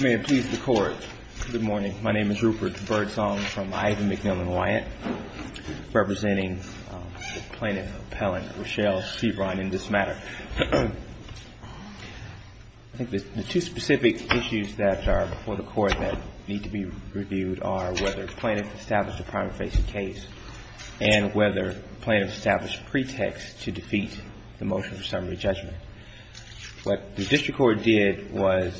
May it please the Court, good morning. My name is Rupert Birdsong from Ivan MacMillan Wyatt, representing the plaintiff, appellant Rochelle Seabron in this matter. I think the two specific issues that are before the Court that need to be reviewed are whether the plaintiff established a primary facing case and whether the plaintiff established a pretext to defeat the motion for summary judgment. What the district court did was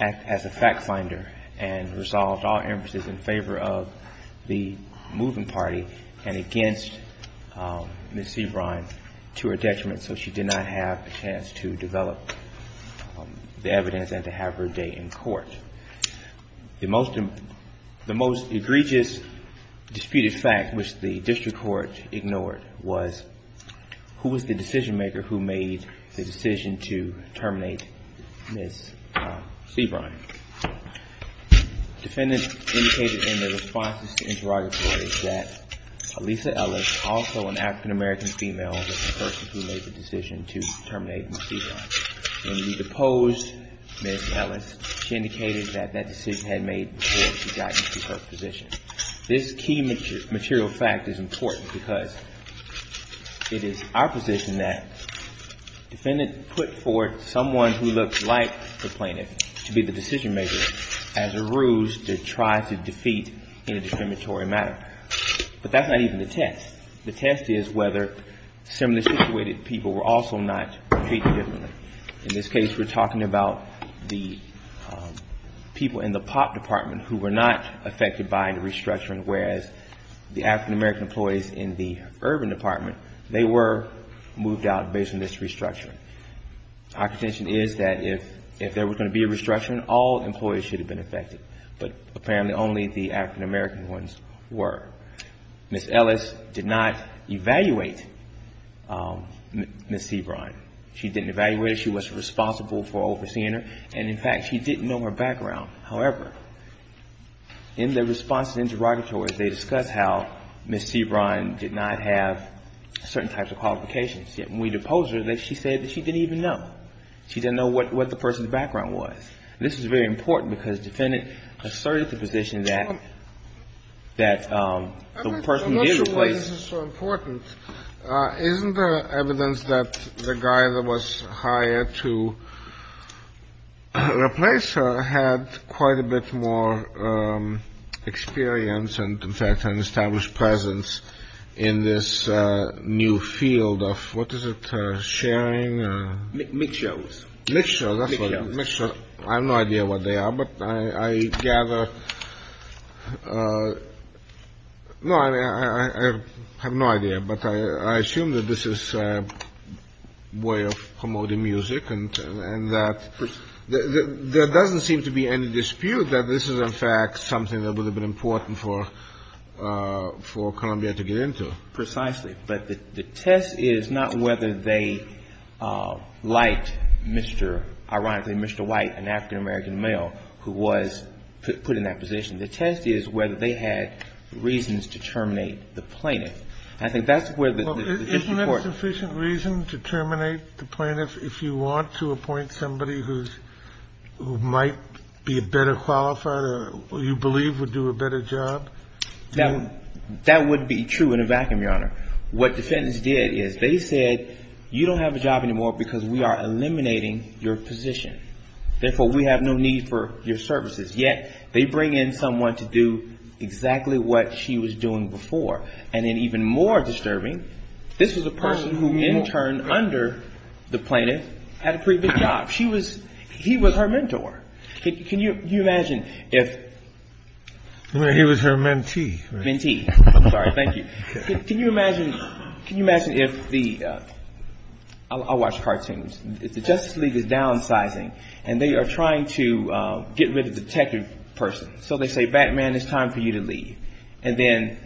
act as a fact finder and resolved all emphases in favor of the moving party and against Ms. Seabron to her detriment so she did not have a chance to develop the evidence and to have her date in court. The most egregious disputed fact which the district court ignored was who was the decision maker who made the decision to terminate Ms. Seabron. Defendants indicated in their responses to interrogatories that Elisa Ellis, also an African-American female, was the person who made the decision to terminate Ms. Seabron. When we deposed Ms. Ellis, she indicated that that decision had been made before she got into her position. This key material fact is important because it is our position that defendants put forth someone who looks like the plaintiff to be the decision maker as a ruse to try to defeat in a discriminatory matter. But that's not even the test. The test is whether similarly situated people were also not treated differently. In this case, we're talking about the people in the pop department who were not affected by the restructuring, whereas the African-American employees in the urban department, they were moved out based on this restructuring. Our contention is that if there was going to be a restructuring, all employees should have been affected, but apparently only the African-American ones were. Ms. Ellis did not evaluate Ms. Seabron. She didn't evaluate her. She was responsible for overseeing her, and in fact, she didn't know her background. However, in the response to interrogatories, they discussed how Ms. Seabron did not have certain types of qualifications, yet when we deposed her, she said that she didn't even know. She didn't know what the person's background was. This is very important because the defendant asserted the position that the person did replace. This is so important. Isn't there evidence that the guy that was hired to replace her had quite a bit more experience and, in fact, an established presence in this new field of what is it, sharing? Mix shows. Mix shows, that's what it is. I have no idea what they are, but I gather... No, I have no idea, but I assume that this is a way of promoting music and that there doesn't seem to be any dispute that this is, in fact, something that would have been important for Columbia to get into. Precisely. But the test is not whether they liked Mr. ironically, Mr. White, an African-American male who was put in that position. The test is whether they had reasons to terminate the plaintiff. I think that's where the... Isn't there sufficient reason to terminate the plaintiff if you want to appoint somebody who might be a better qualified or you believe would do a better job? That would be true in a vacuum, Your Honor. What defendants did is they said, you don't have a job anymore because we are eliminating your position. Therefore, we have no need for your services. Yet, they bring in someone to do exactly what she was doing before. And then even more disturbing, this was a person who, in turn, under the plaintiff, had a pretty good job. He was her mentor. Can you imagine if... He was her mentee. Mentee. I'm sorry. Thank you. Can you imagine if the... I'll watch cartoons. If the Justice League is downsizing and they are trying to get rid of the detective person. So they say, Batman, it's time for you to leave. And then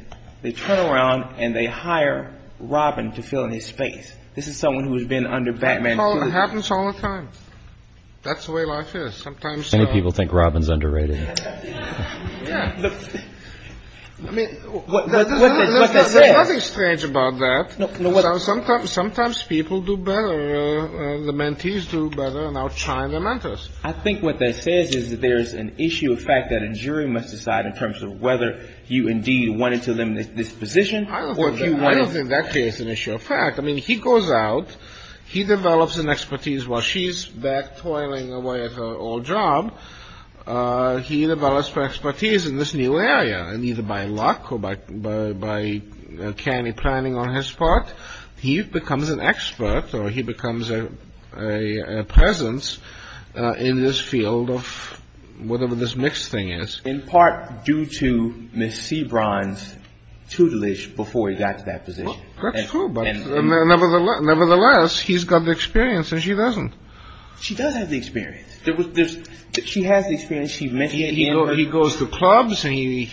they turn around and they hire Robin to fill in his space. This is someone who has been under Batman. Well, it happens all the time. That's the way life is. Sometimes... Many people think Robin's underrated. I mean, there's nothing strange about that. Sometimes people do better, the mentees do better, and now China mentors. I think what that says is that there's an issue of fact that a jury must decide in terms of whether you indeed wanted to eliminate this position or if you wanted... I don't think that creates an issue of fact. I mean, he goes out, he develops an expertise while she's back toiling away at her old job, he develops expertise in this new area. And either by luck or by canny planning on his part, he becomes an expert or he becomes a presence in this field of whatever this mixed thing is. In part due to Ms. Sebron's tutelage before he got to that position. That's true, but nevertheless, he's got the experience and she doesn't. She does have the experience. She has the experience. She met him. He goes to clubs and he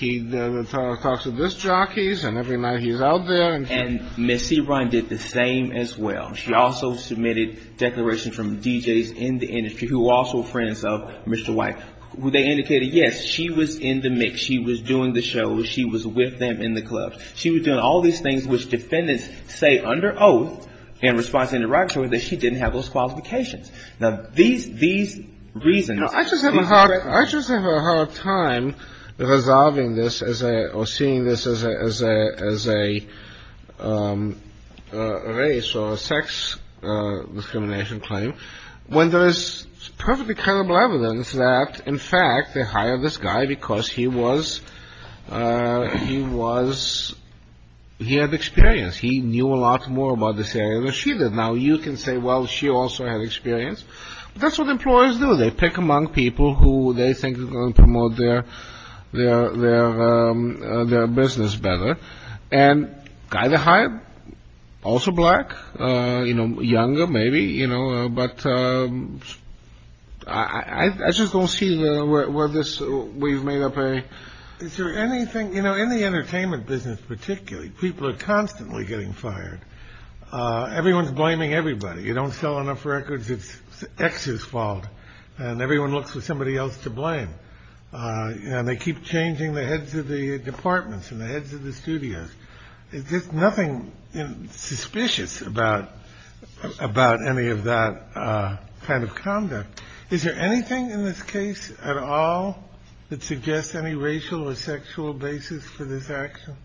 talks to disc jockeys and every night he's out there. And Ms. Sebron did the same as well. She also submitted declarations from DJs in the industry who were also friends of Mr. White. They indicated, yes, she was in the mix. She was doing the shows. She was with them in the clubs. She was doing all these things which defendants say under oath in response to an interrogatory that she didn't have those qualifications. Now, these reasons... I just have a hard time resolving this or seeing this as a race or sex discrimination claim when there is perfectly credible evidence that, in fact, they hired this guy because he had experience. He knew a lot more about this area than she did. Now, you can say, well, she also had experience. That's what employers do. They pick among people who they think are going to promote their business better. And guy they hired, also black, younger maybe. But I just don't see where we've made up a... Is there anything, you know, in the entertainment business particularly, people are constantly getting fired. Everyone's blaming everybody. You don't sell enough records. It's X's fault. And everyone looks for somebody else to blame. They keep changing the heads of the departments and the heads of the studios. There's nothing suspicious about any of that kind of conduct. Is there anything in this case at all that suggests any racial or sexual basis for this action?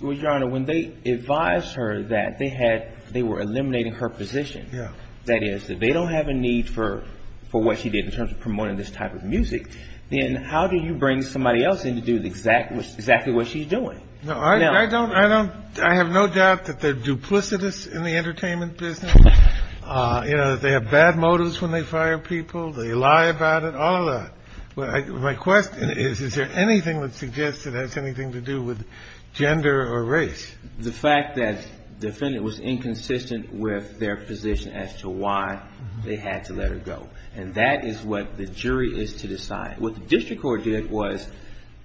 Well, Your Honor, when they advised her that they were eliminating her position, that is, that they don't have a need for what she did in terms of promoting this type of music, then how do you bring somebody else in to do exactly what she's doing? No, I don't. I have no doubt that they're duplicitous in the entertainment business. You know, they have bad motives when they fire people. They lie about it. All of that. My question is, is there anything that suggests it has anything to do with gender or race? The fact that the defendant was inconsistent with their position as to why they had to let her go. And that is what the jury is to decide. What the district court did was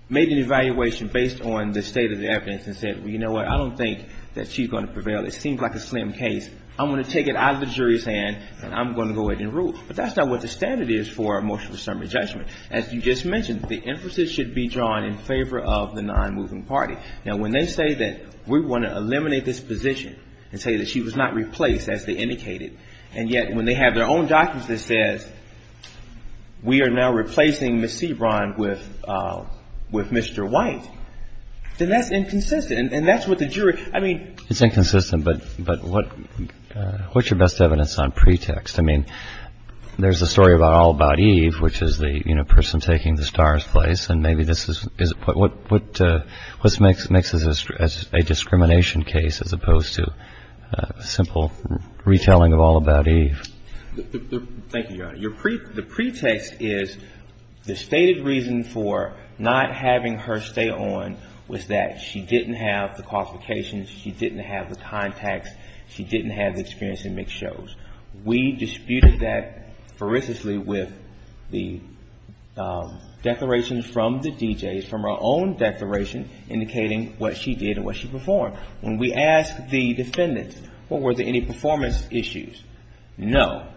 made an evaluation based on the state of the evidence and said, well, you know what, I don't think that she's going to prevail. It seems like a slim case. I'm going to take it out of the jury's hand and I'm going to go ahead and rule. But that's not what the standard is for a motion for summary judgment. As you just mentioned, the emphasis should be drawn in favor of the non-moving party. Now, when they say that we want to eliminate this position and say that she was not replaced, as they indicated, and yet when they have their own documents that says we are now replacing Miss Sebron with Mr. White, then that's inconsistent. And that's what the jury. I mean, it's inconsistent. But what's your best evidence on pretext? I mean, there's a story about All About Eve, which is the, you know, person taking the star's place, and maybe this is a point. What makes this a discrimination case as opposed to a simple retelling of All About Eve? Thank you, Your Honor. The pretext is the stated reason for not having her stay on was that she didn't have the qualifications, she didn't have the contacts, she didn't have the experience in mixed shows. We disputed that ferociously with the declarations from the DJs, from her own declaration indicating what she did and what she performed. When we asked the defendants, well, were there any performance issues? No.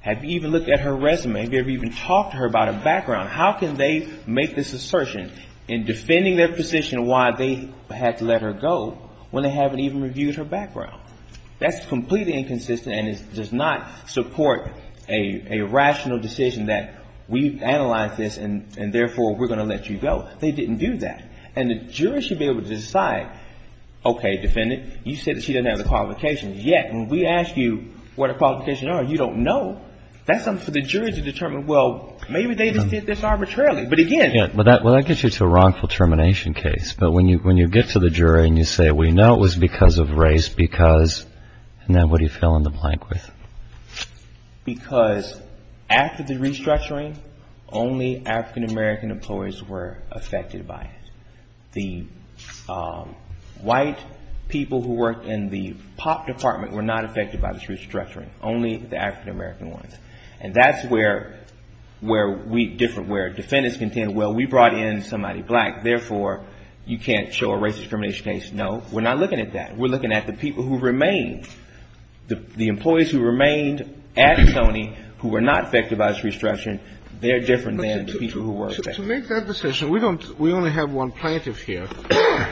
Have you even looked at her resume? Have you ever even talked to her about her background? How can they make this assertion in defending their position why they had to let her go when they haven't even reviewed her background? That's completely inconsistent and does not support a rational decision that we've analyzed this and therefore we're going to let you go. They didn't do that. And the jury should be able to decide, okay, defendant, you said that she doesn't have the qualifications. Yet when we ask you what her qualifications are, you don't know. That's something for the jury to determine, well, maybe they just did this arbitrarily. Well, that gets you to a wrongful termination case. But when you get to the jury and you say, we know it was because of race, because, and then what do you fill in the blank with? Because after the restructuring, only African-American employees were affected by it. The white people who worked in the pop department were not affected by this restructuring. Only the African-American ones. And that's where we differ, where defendants contend, well, we brought in somebody black, therefore you can't show a racist discrimination case. No, we're not looking at that. We're looking at the people who remained, the employees who remained at Tony who were not affected by this restructuring. We don't, we only have one plaintiff here.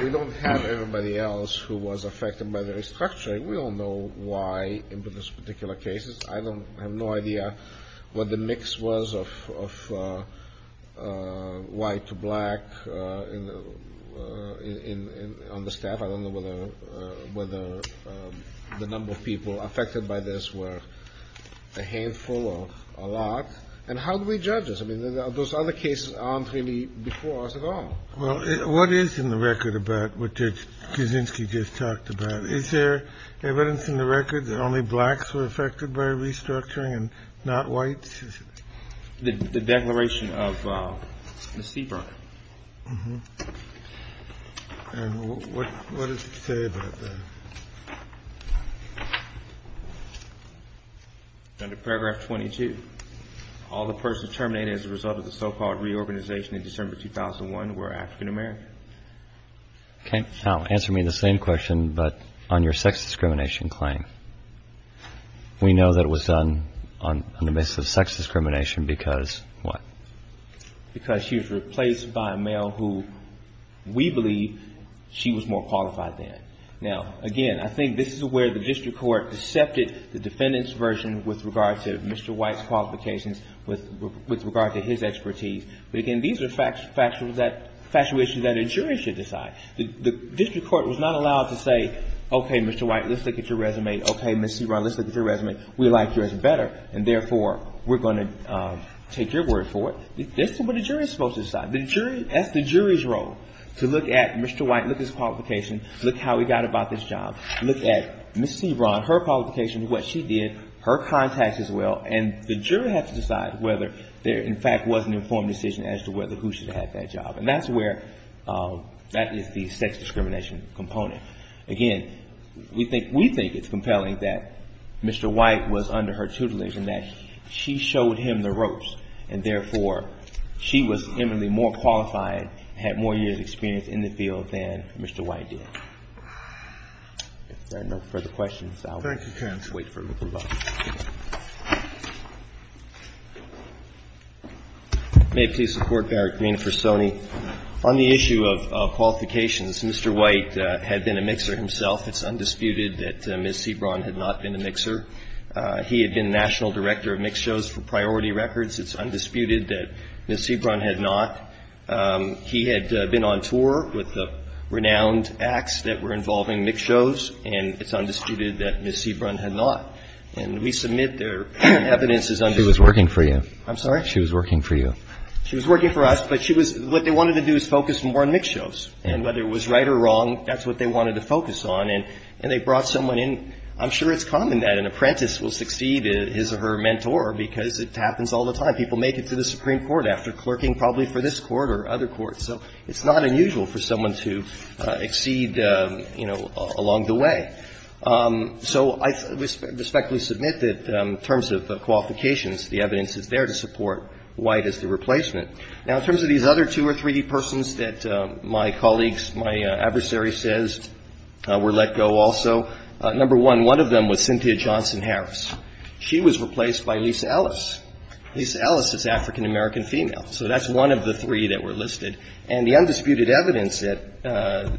We don't have everybody else who was affected by the restructuring. We all know why in this particular case. I have no idea what the mix was of white to black on the staff. I don't know whether the number of people affected by this were a handful or a lot. And how do we judge this? I mean, those other cases aren't really before us at all. Well, what is in the record about what Judge Kuczynski just talked about? Is there evidence in the record that only blacks were affected by restructuring and not whites? The declaration of the Seaburn. And what does it say about that? Under paragraph 22. All the persons terminated as a result of the so-called reorganization in December 2001 were African American. Okay. Now answer me the same question, but on your sex discrimination claim. We know that it was done on the basis of sex discrimination because what? Because she was replaced by a male who we believe she was more qualified than. Now, again, I think this is where the district court accepted the defendant's version with regard to Mr. White's qualifications, with regard to his expertise. But again, these are factual issues that a jury should decide. The district court was not allowed to say, okay, Mr. White, let's look at your resume. Okay, Ms. Seaborn, let's look at your resume. We like yours better, and therefore, we're going to take your word for it. That's what a jury is supposed to decide. That's the jury's role, to look at Mr. White, look at his qualifications, look at how he got about this job, look at Ms. Seaborn, her qualifications, what she did, her contacts as well. And the jury has to decide whether there, in fact, was an informed decision as to whether who should have that job. And that's where that is the sex discrimination component. Again, we think it's compelling that Mr. White was under her tutelage and that she showed him the ropes, and therefore, she was eminently more qualified, had more years' experience in the field than Mr. White did. If there are no further questions, I'll wait for a little while. Thank you, counsel. May it please the Court, Garrett Green for Stoney. On the issue of qualifications, Mr. White had been a mixer himself. It's undisputed that Ms. Seaborn had not been a mixer. He had been National Director of Mixed Shows for Priority Records. It's undisputed that Ms. Seaborn had not. He had been on tour with the renowned acts that were involving mixed shows. And it's undisputed that Ms. Seaborn had not. And we submit their evidence as undisputed. She was working for you. I'm sorry? She was working for you. She was working for us, but she was what they wanted to do is focus more on mixed shows. And whether it was right or wrong, that's what they wanted to focus on. And they brought someone in. I'm sure it's common that an apprentice will succeed his or her mentor because it happens all the time. People make it to the Supreme Court after clerking probably for this court or other courts. So it's not unusual for someone to exceed, you know, along the way. So I respectfully submit that in terms of qualifications, the evidence is there to support White as the replacement. Now, in terms of these other two or three persons that my colleagues, my adversary says, were let go also, number one, one of them was Cynthia Johnson Harris. She was replaced by Lisa Ellis. Lisa Ellis is African-American female. So that's one of the three that were listed. And the undisputed evidence that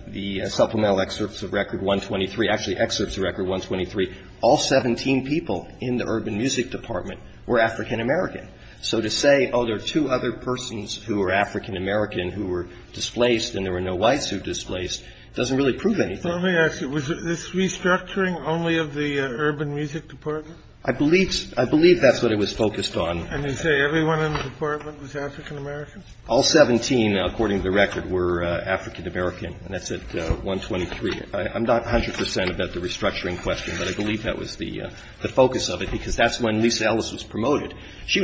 the supplemental excerpts of Record 123, actually excerpts of Record 123, all 17 people in the Urban Music Department were African-American. So to say, oh, there are two other persons who are African-American who were displaced and there were no Whites who displaced doesn't really prove anything. Let me ask you, was this restructuring only of the Urban Music Department? I believe that's what it was focused on. And you say everyone in the department was African-American? All 17, according to the record, were African-American, and that's at 123. I'm not 100 percent about the restructuring question, but I believe that was the focus of it, because that's when Lisa Ellis was promoted.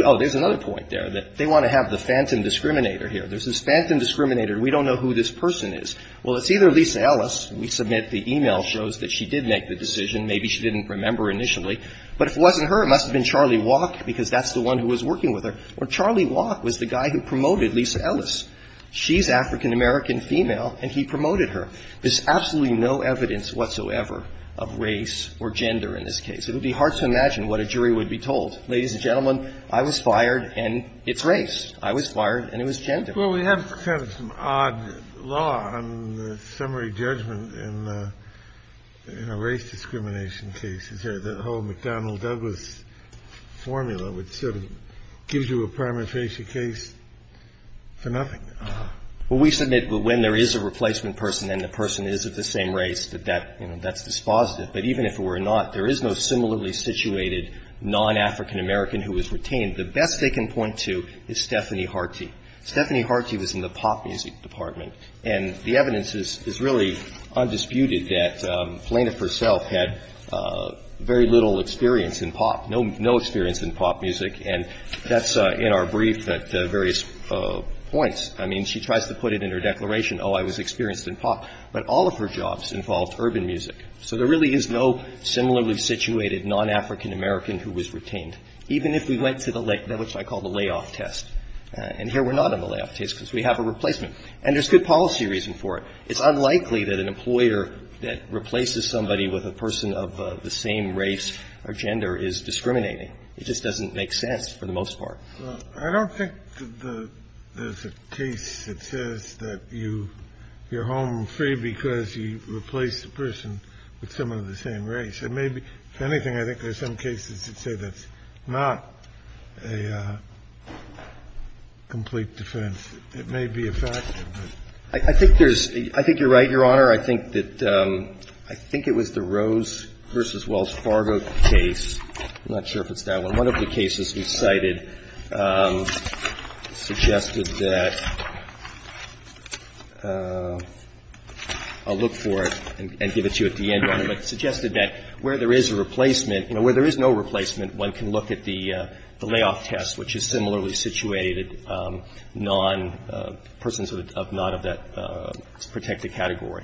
Oh, there's another point there, that they want to have the phantom discriminator here. There's this phantom discriminator and we don't know who this person is. Well, it's either Lisa Ellis, we submit the e-mail shows that she did make the decision, maybe she didn't remember initially, but if it wasn't her, it must have been Charlie Walk, because that's the one who was working with her. Or Charlie Walk was the guy who promoted Lisa Ellis. She's African-American female and he promoted her. There's absolutely no evidence whatsoever of race or gender in this case. It would be hard to imagine what a jury would be told. Ladies and gentlemen, I was fired and it's race. I was fired and it was gender. Well, we have kind of some odd law on the summary judgment in the race discrimination cases here. The whole McDonnell-Douglas formula, which sort of gives you a prima facie case for nothing. Well, we submit when there is a replacement person and the person is of the same race, that that's dispositive. But even if it were not, there is no similarly situated non-African-American who was retained. The best they can point to is Stephanie Harty. Stephanie Harty was in the pop music department. And the evidence is really undisputed that Plaintiff herself had very little experience in pop, no experience in pop music. And that's in our brief at various points. I mean, she tries to put it in her declaration, oh, I was experienced in pop. But all of her jobs involved urban music. So there really is no similarly situated non-African-American who was retained, even if we went to the, which I call the layoff test. And here we're not on the layoff test because we have a replacement. And there's good policy reason for it. It's unlikely that an employer that replaces somebody with a person of the same race or gender is discriminating. It just doesn't make sense for the most part. I don't think there's a case that says that you're home free because you replaced a person with someone of the same race. It may be, if anything, I think there's some cases that say that's not a complete defense. It may be a fact. I think there's, I think you're right, Your Honor. I think that, I think it was the Rose v. Wells Fargo case. I'm not sure if it's that one. One of the cases we cited suggested that, I'll look for it and give it to you at the end, Your Honor, but suggested that where there is a replacement, you know, where there is no replacement, one can look at the layoff test, which is similarly situated, non, persons of non of that protected category.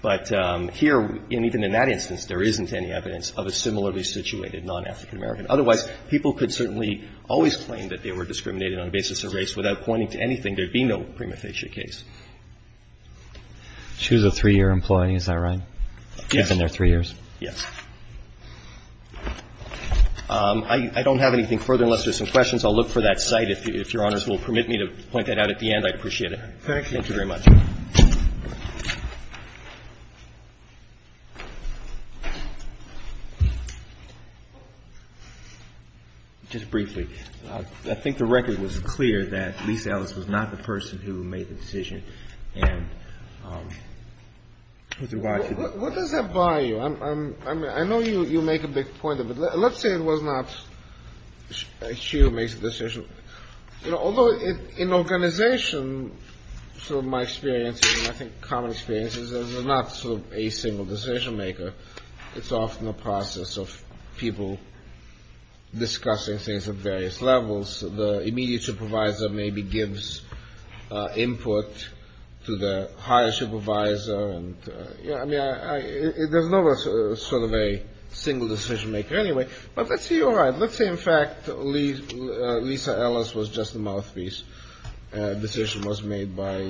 But here, and even in that instance, there isn't any evidence of a similarly situated non-African American. Otherwise, people could certainly always claim that they were discriminated on the basis of race without pointing to anything. There would be no prima facie case. She was a three-year employee, is that right? Yes. She was in there three years? Yes. I don't have anything further unless there's some questions. I'll look for that site, if Your Honors will permit me to point that out at the end. I'd appreciate it. Thank you. Thank you very much. Just briefly, I think the record was clear that Lisa Ellis was not the person who made the decision. What does that buy you? I know you make a big point of it. Let's say it was not she who made the decision. You know, although in organization, sort of my experience, and I think common experiences, there's not sort of a single decision maker. It's often a process of people discussing things at various levels. The immediate supervisor maybe gives input to the higher supervisor. I mean, there's not sort of a single decision maker anyway. But let's say you're right. Let's say, in fact, Lisa Ellis was just a mouthpiece. The decision was made by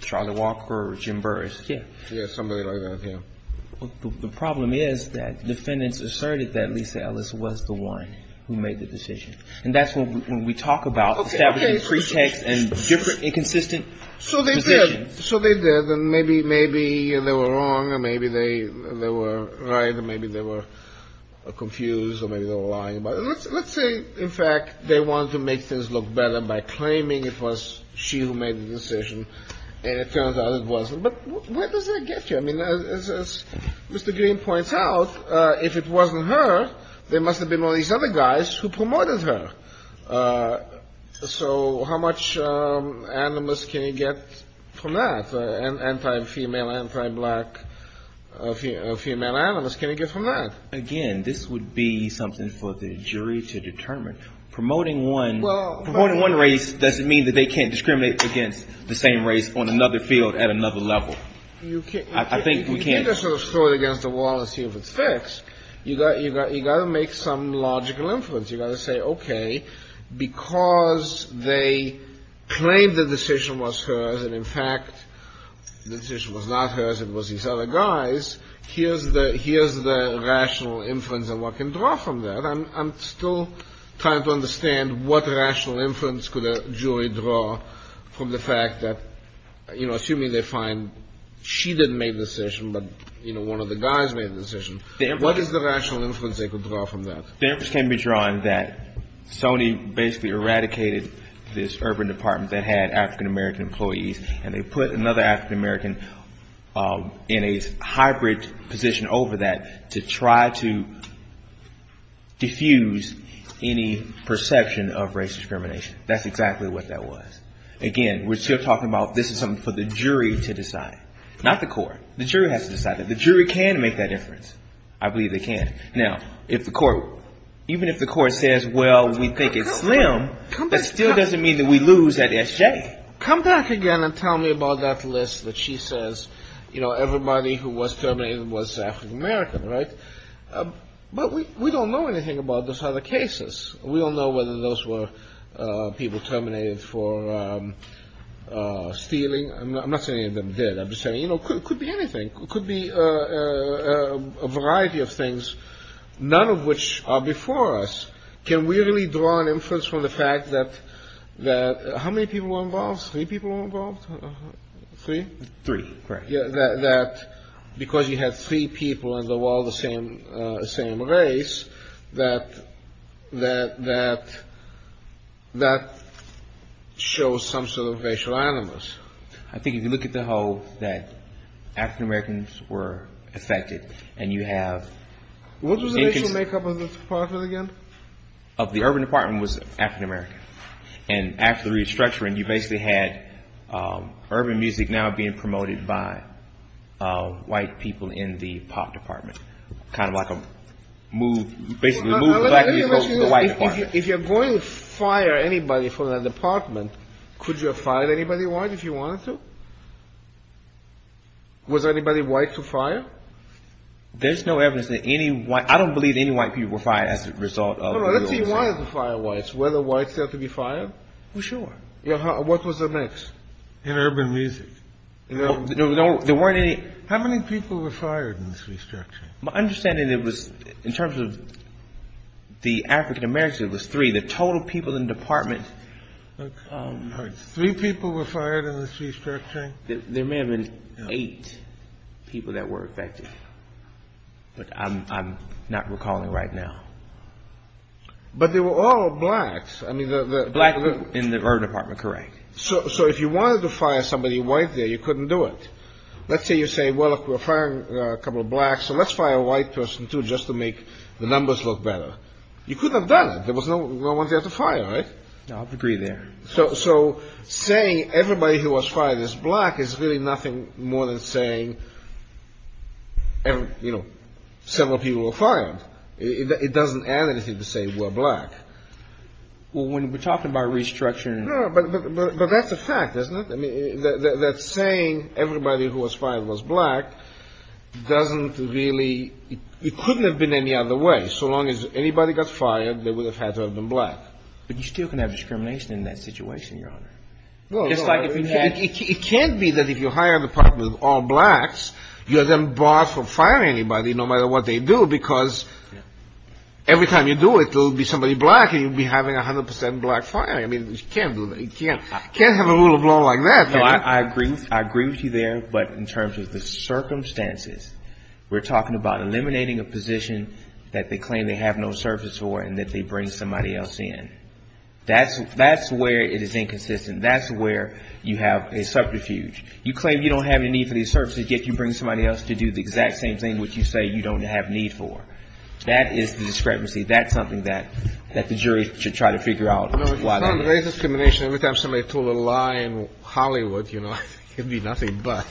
Charlie Walker or Jim Burris. Yes. Somebody like that, yes. The problem is that defendants asserted that Lisa Ellis was the one who made the decision. And that's when we talk about establishing pretext and different inconsistent decisions. So they did. And maybe they were wrong or maybe they were right or maybe they were confused or maybe they were lying. But let's say, in fact, they wanted to make things look better by claiming it was she who made the decision. And it turns out it wasn't. But where does that get you? I mean, as Mr. Green points out, if it wasn't her, there must have been all these other guys who promoted her. So how much animus can you get from that? Anti-female, anti-black female animus, can you get from that? Again, this would be something for the jury to determine. Promoting one race doesn't mean that they can't discriminate against the same race on another field at another level. I think we can't. You can't just throw it against the wall and see if it's fixed. You've got to make some logical inference. You've got to say, okay, because they claimed the decision was hers and, in fact, the decision was not hers, it was these other guys, here's the rational inference and what can draw from that. I'm still trying to understand what rational inference could a jury draw from the fact that, you know, assuming they find she didn't make the decision but, you know, one of the guys made the decision, what is the rational inference they could draw from that? The inference can be drawn that Sony basically eradicated this urban department that had African-American employees and they put another African-American in a hybrid position over that to try to diffuse any perception of race discrimination. That's exactly what that was. Again, we're still talking about this is something for the jury to decide, not the court. The jury has to decide that. The jury can make that inference. I believe they can. Now, if the court, even if the court says, well, we think it's slim, that still doesn't mean that we lose at SJ. Come back again and tell me about that list that she says, you know, everybody who was terminated was African-American, right? But we don't know anything about those other cases. We don't know whether those were people terminated for stealing. I'm not saying any of them did. I'm just saying, you know, it could be anything. It could be a variety of things, none of which are before us. Can we really draw an inference from the fact that how many people were involved? Three people were involved. Three? Three. Correct. That because you had three people in the wall, the same race, that that shows some sort of racial animus. I think if you look at the whole that African-Americans were affected and you have. What was the racial makeup of the department again? Of the urban department was African-American. And after the restructuring, you basically had urban music now being promoted by white people in the pop department. Kind of like a move. Basically, move black people to the white department. If you're going to fire anybody from that department, could you have fired anybody white if you wanted to? Was anybody white to fire? There's no evidence that any white. I don't believe any white people were fired as a result of the restructuring. Let's see why they fired whites. Were the whites there to be fired? Well, sure. What was the mix in urban music? There weren't any. How many people were fired in this restructuring? My understanding was in terms of the African-Americans, it was three. The total people in the department. Three people were fired in this restructuring? There may have been eight people that were affected. But I'm not recalling right now. But they were all blacks. Black in the urban department, correct. So if you wanted to fire somebody white there, you couldn't do it. Let's say you say, well, we're firing a couple of blacks, so let's fire a white person, too, just to make the numbers look better. You couldn't have done it. There was no one there to fire, right? No, I agree there. So saying everybody who was fired is black is really nothing more than saying several people were fired. It doesn't add anything to say we're black. Well, when we're talking about restructuring. No, but that's a fact, isn't it? That saying everybody who was fired was black doesn't really – it couldn't have been any other way. So long as anybody got fired, they would have had to have been black. But you still can have discrimination in that situation, Your Honor. It can't be that if you hire a department with all blacks, you have them barred from firing anybody no matter what they do, because every time you do it, there will be somebody black and you'll be having 100 percent black firing. I mean, you can't do that. You can't have a rule of law like that. I agree with you there. But in terms of the circumstances, we're talking about eliminating a position that they claim they have no service for and that they bring somebody else in. That's where it is inconsistent. That's where you have a subterfuge. You claim you don't have any need for these services, yet you bring somebody else to do the exact same thing, which you say you don't have need for. That is the discrepancy. That's something that the jury should try to figure out. No, if you fund race discrimination, every time somebody told a lie in Hollywood, you know, it'd be nothing but.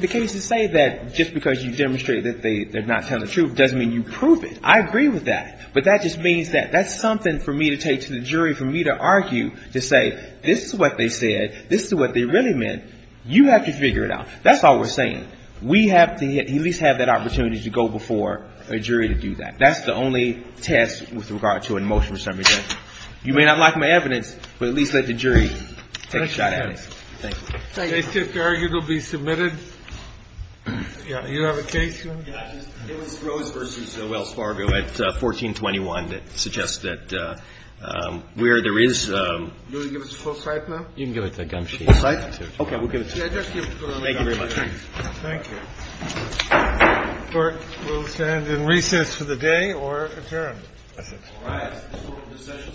The cases say that just because you demonstrate that they're not telling the truth doesn't mean you prove it. I agree with that. But that just means that that's something for me to take to the jury, for me to argue, to say this is what they said, this is what they really meant. You have to figure it out. That's all we're saying. We have to at least have that opportunity to go before a jury to do that. That's the only test with regard to a motion for summary judgment. You may not like my evidence, but at least let the jury take a shot at it. Thank you. Thank you. The case just argued will be submitted. Do you have a case? It was Rose v. Wells Fargo at 1421 that suggests that where there is. You can give it to Gumshe. Thank you very much. Thank you. The Court will stand in recess for the day or adjourn. All rise. The Court will recess and stand adjourned.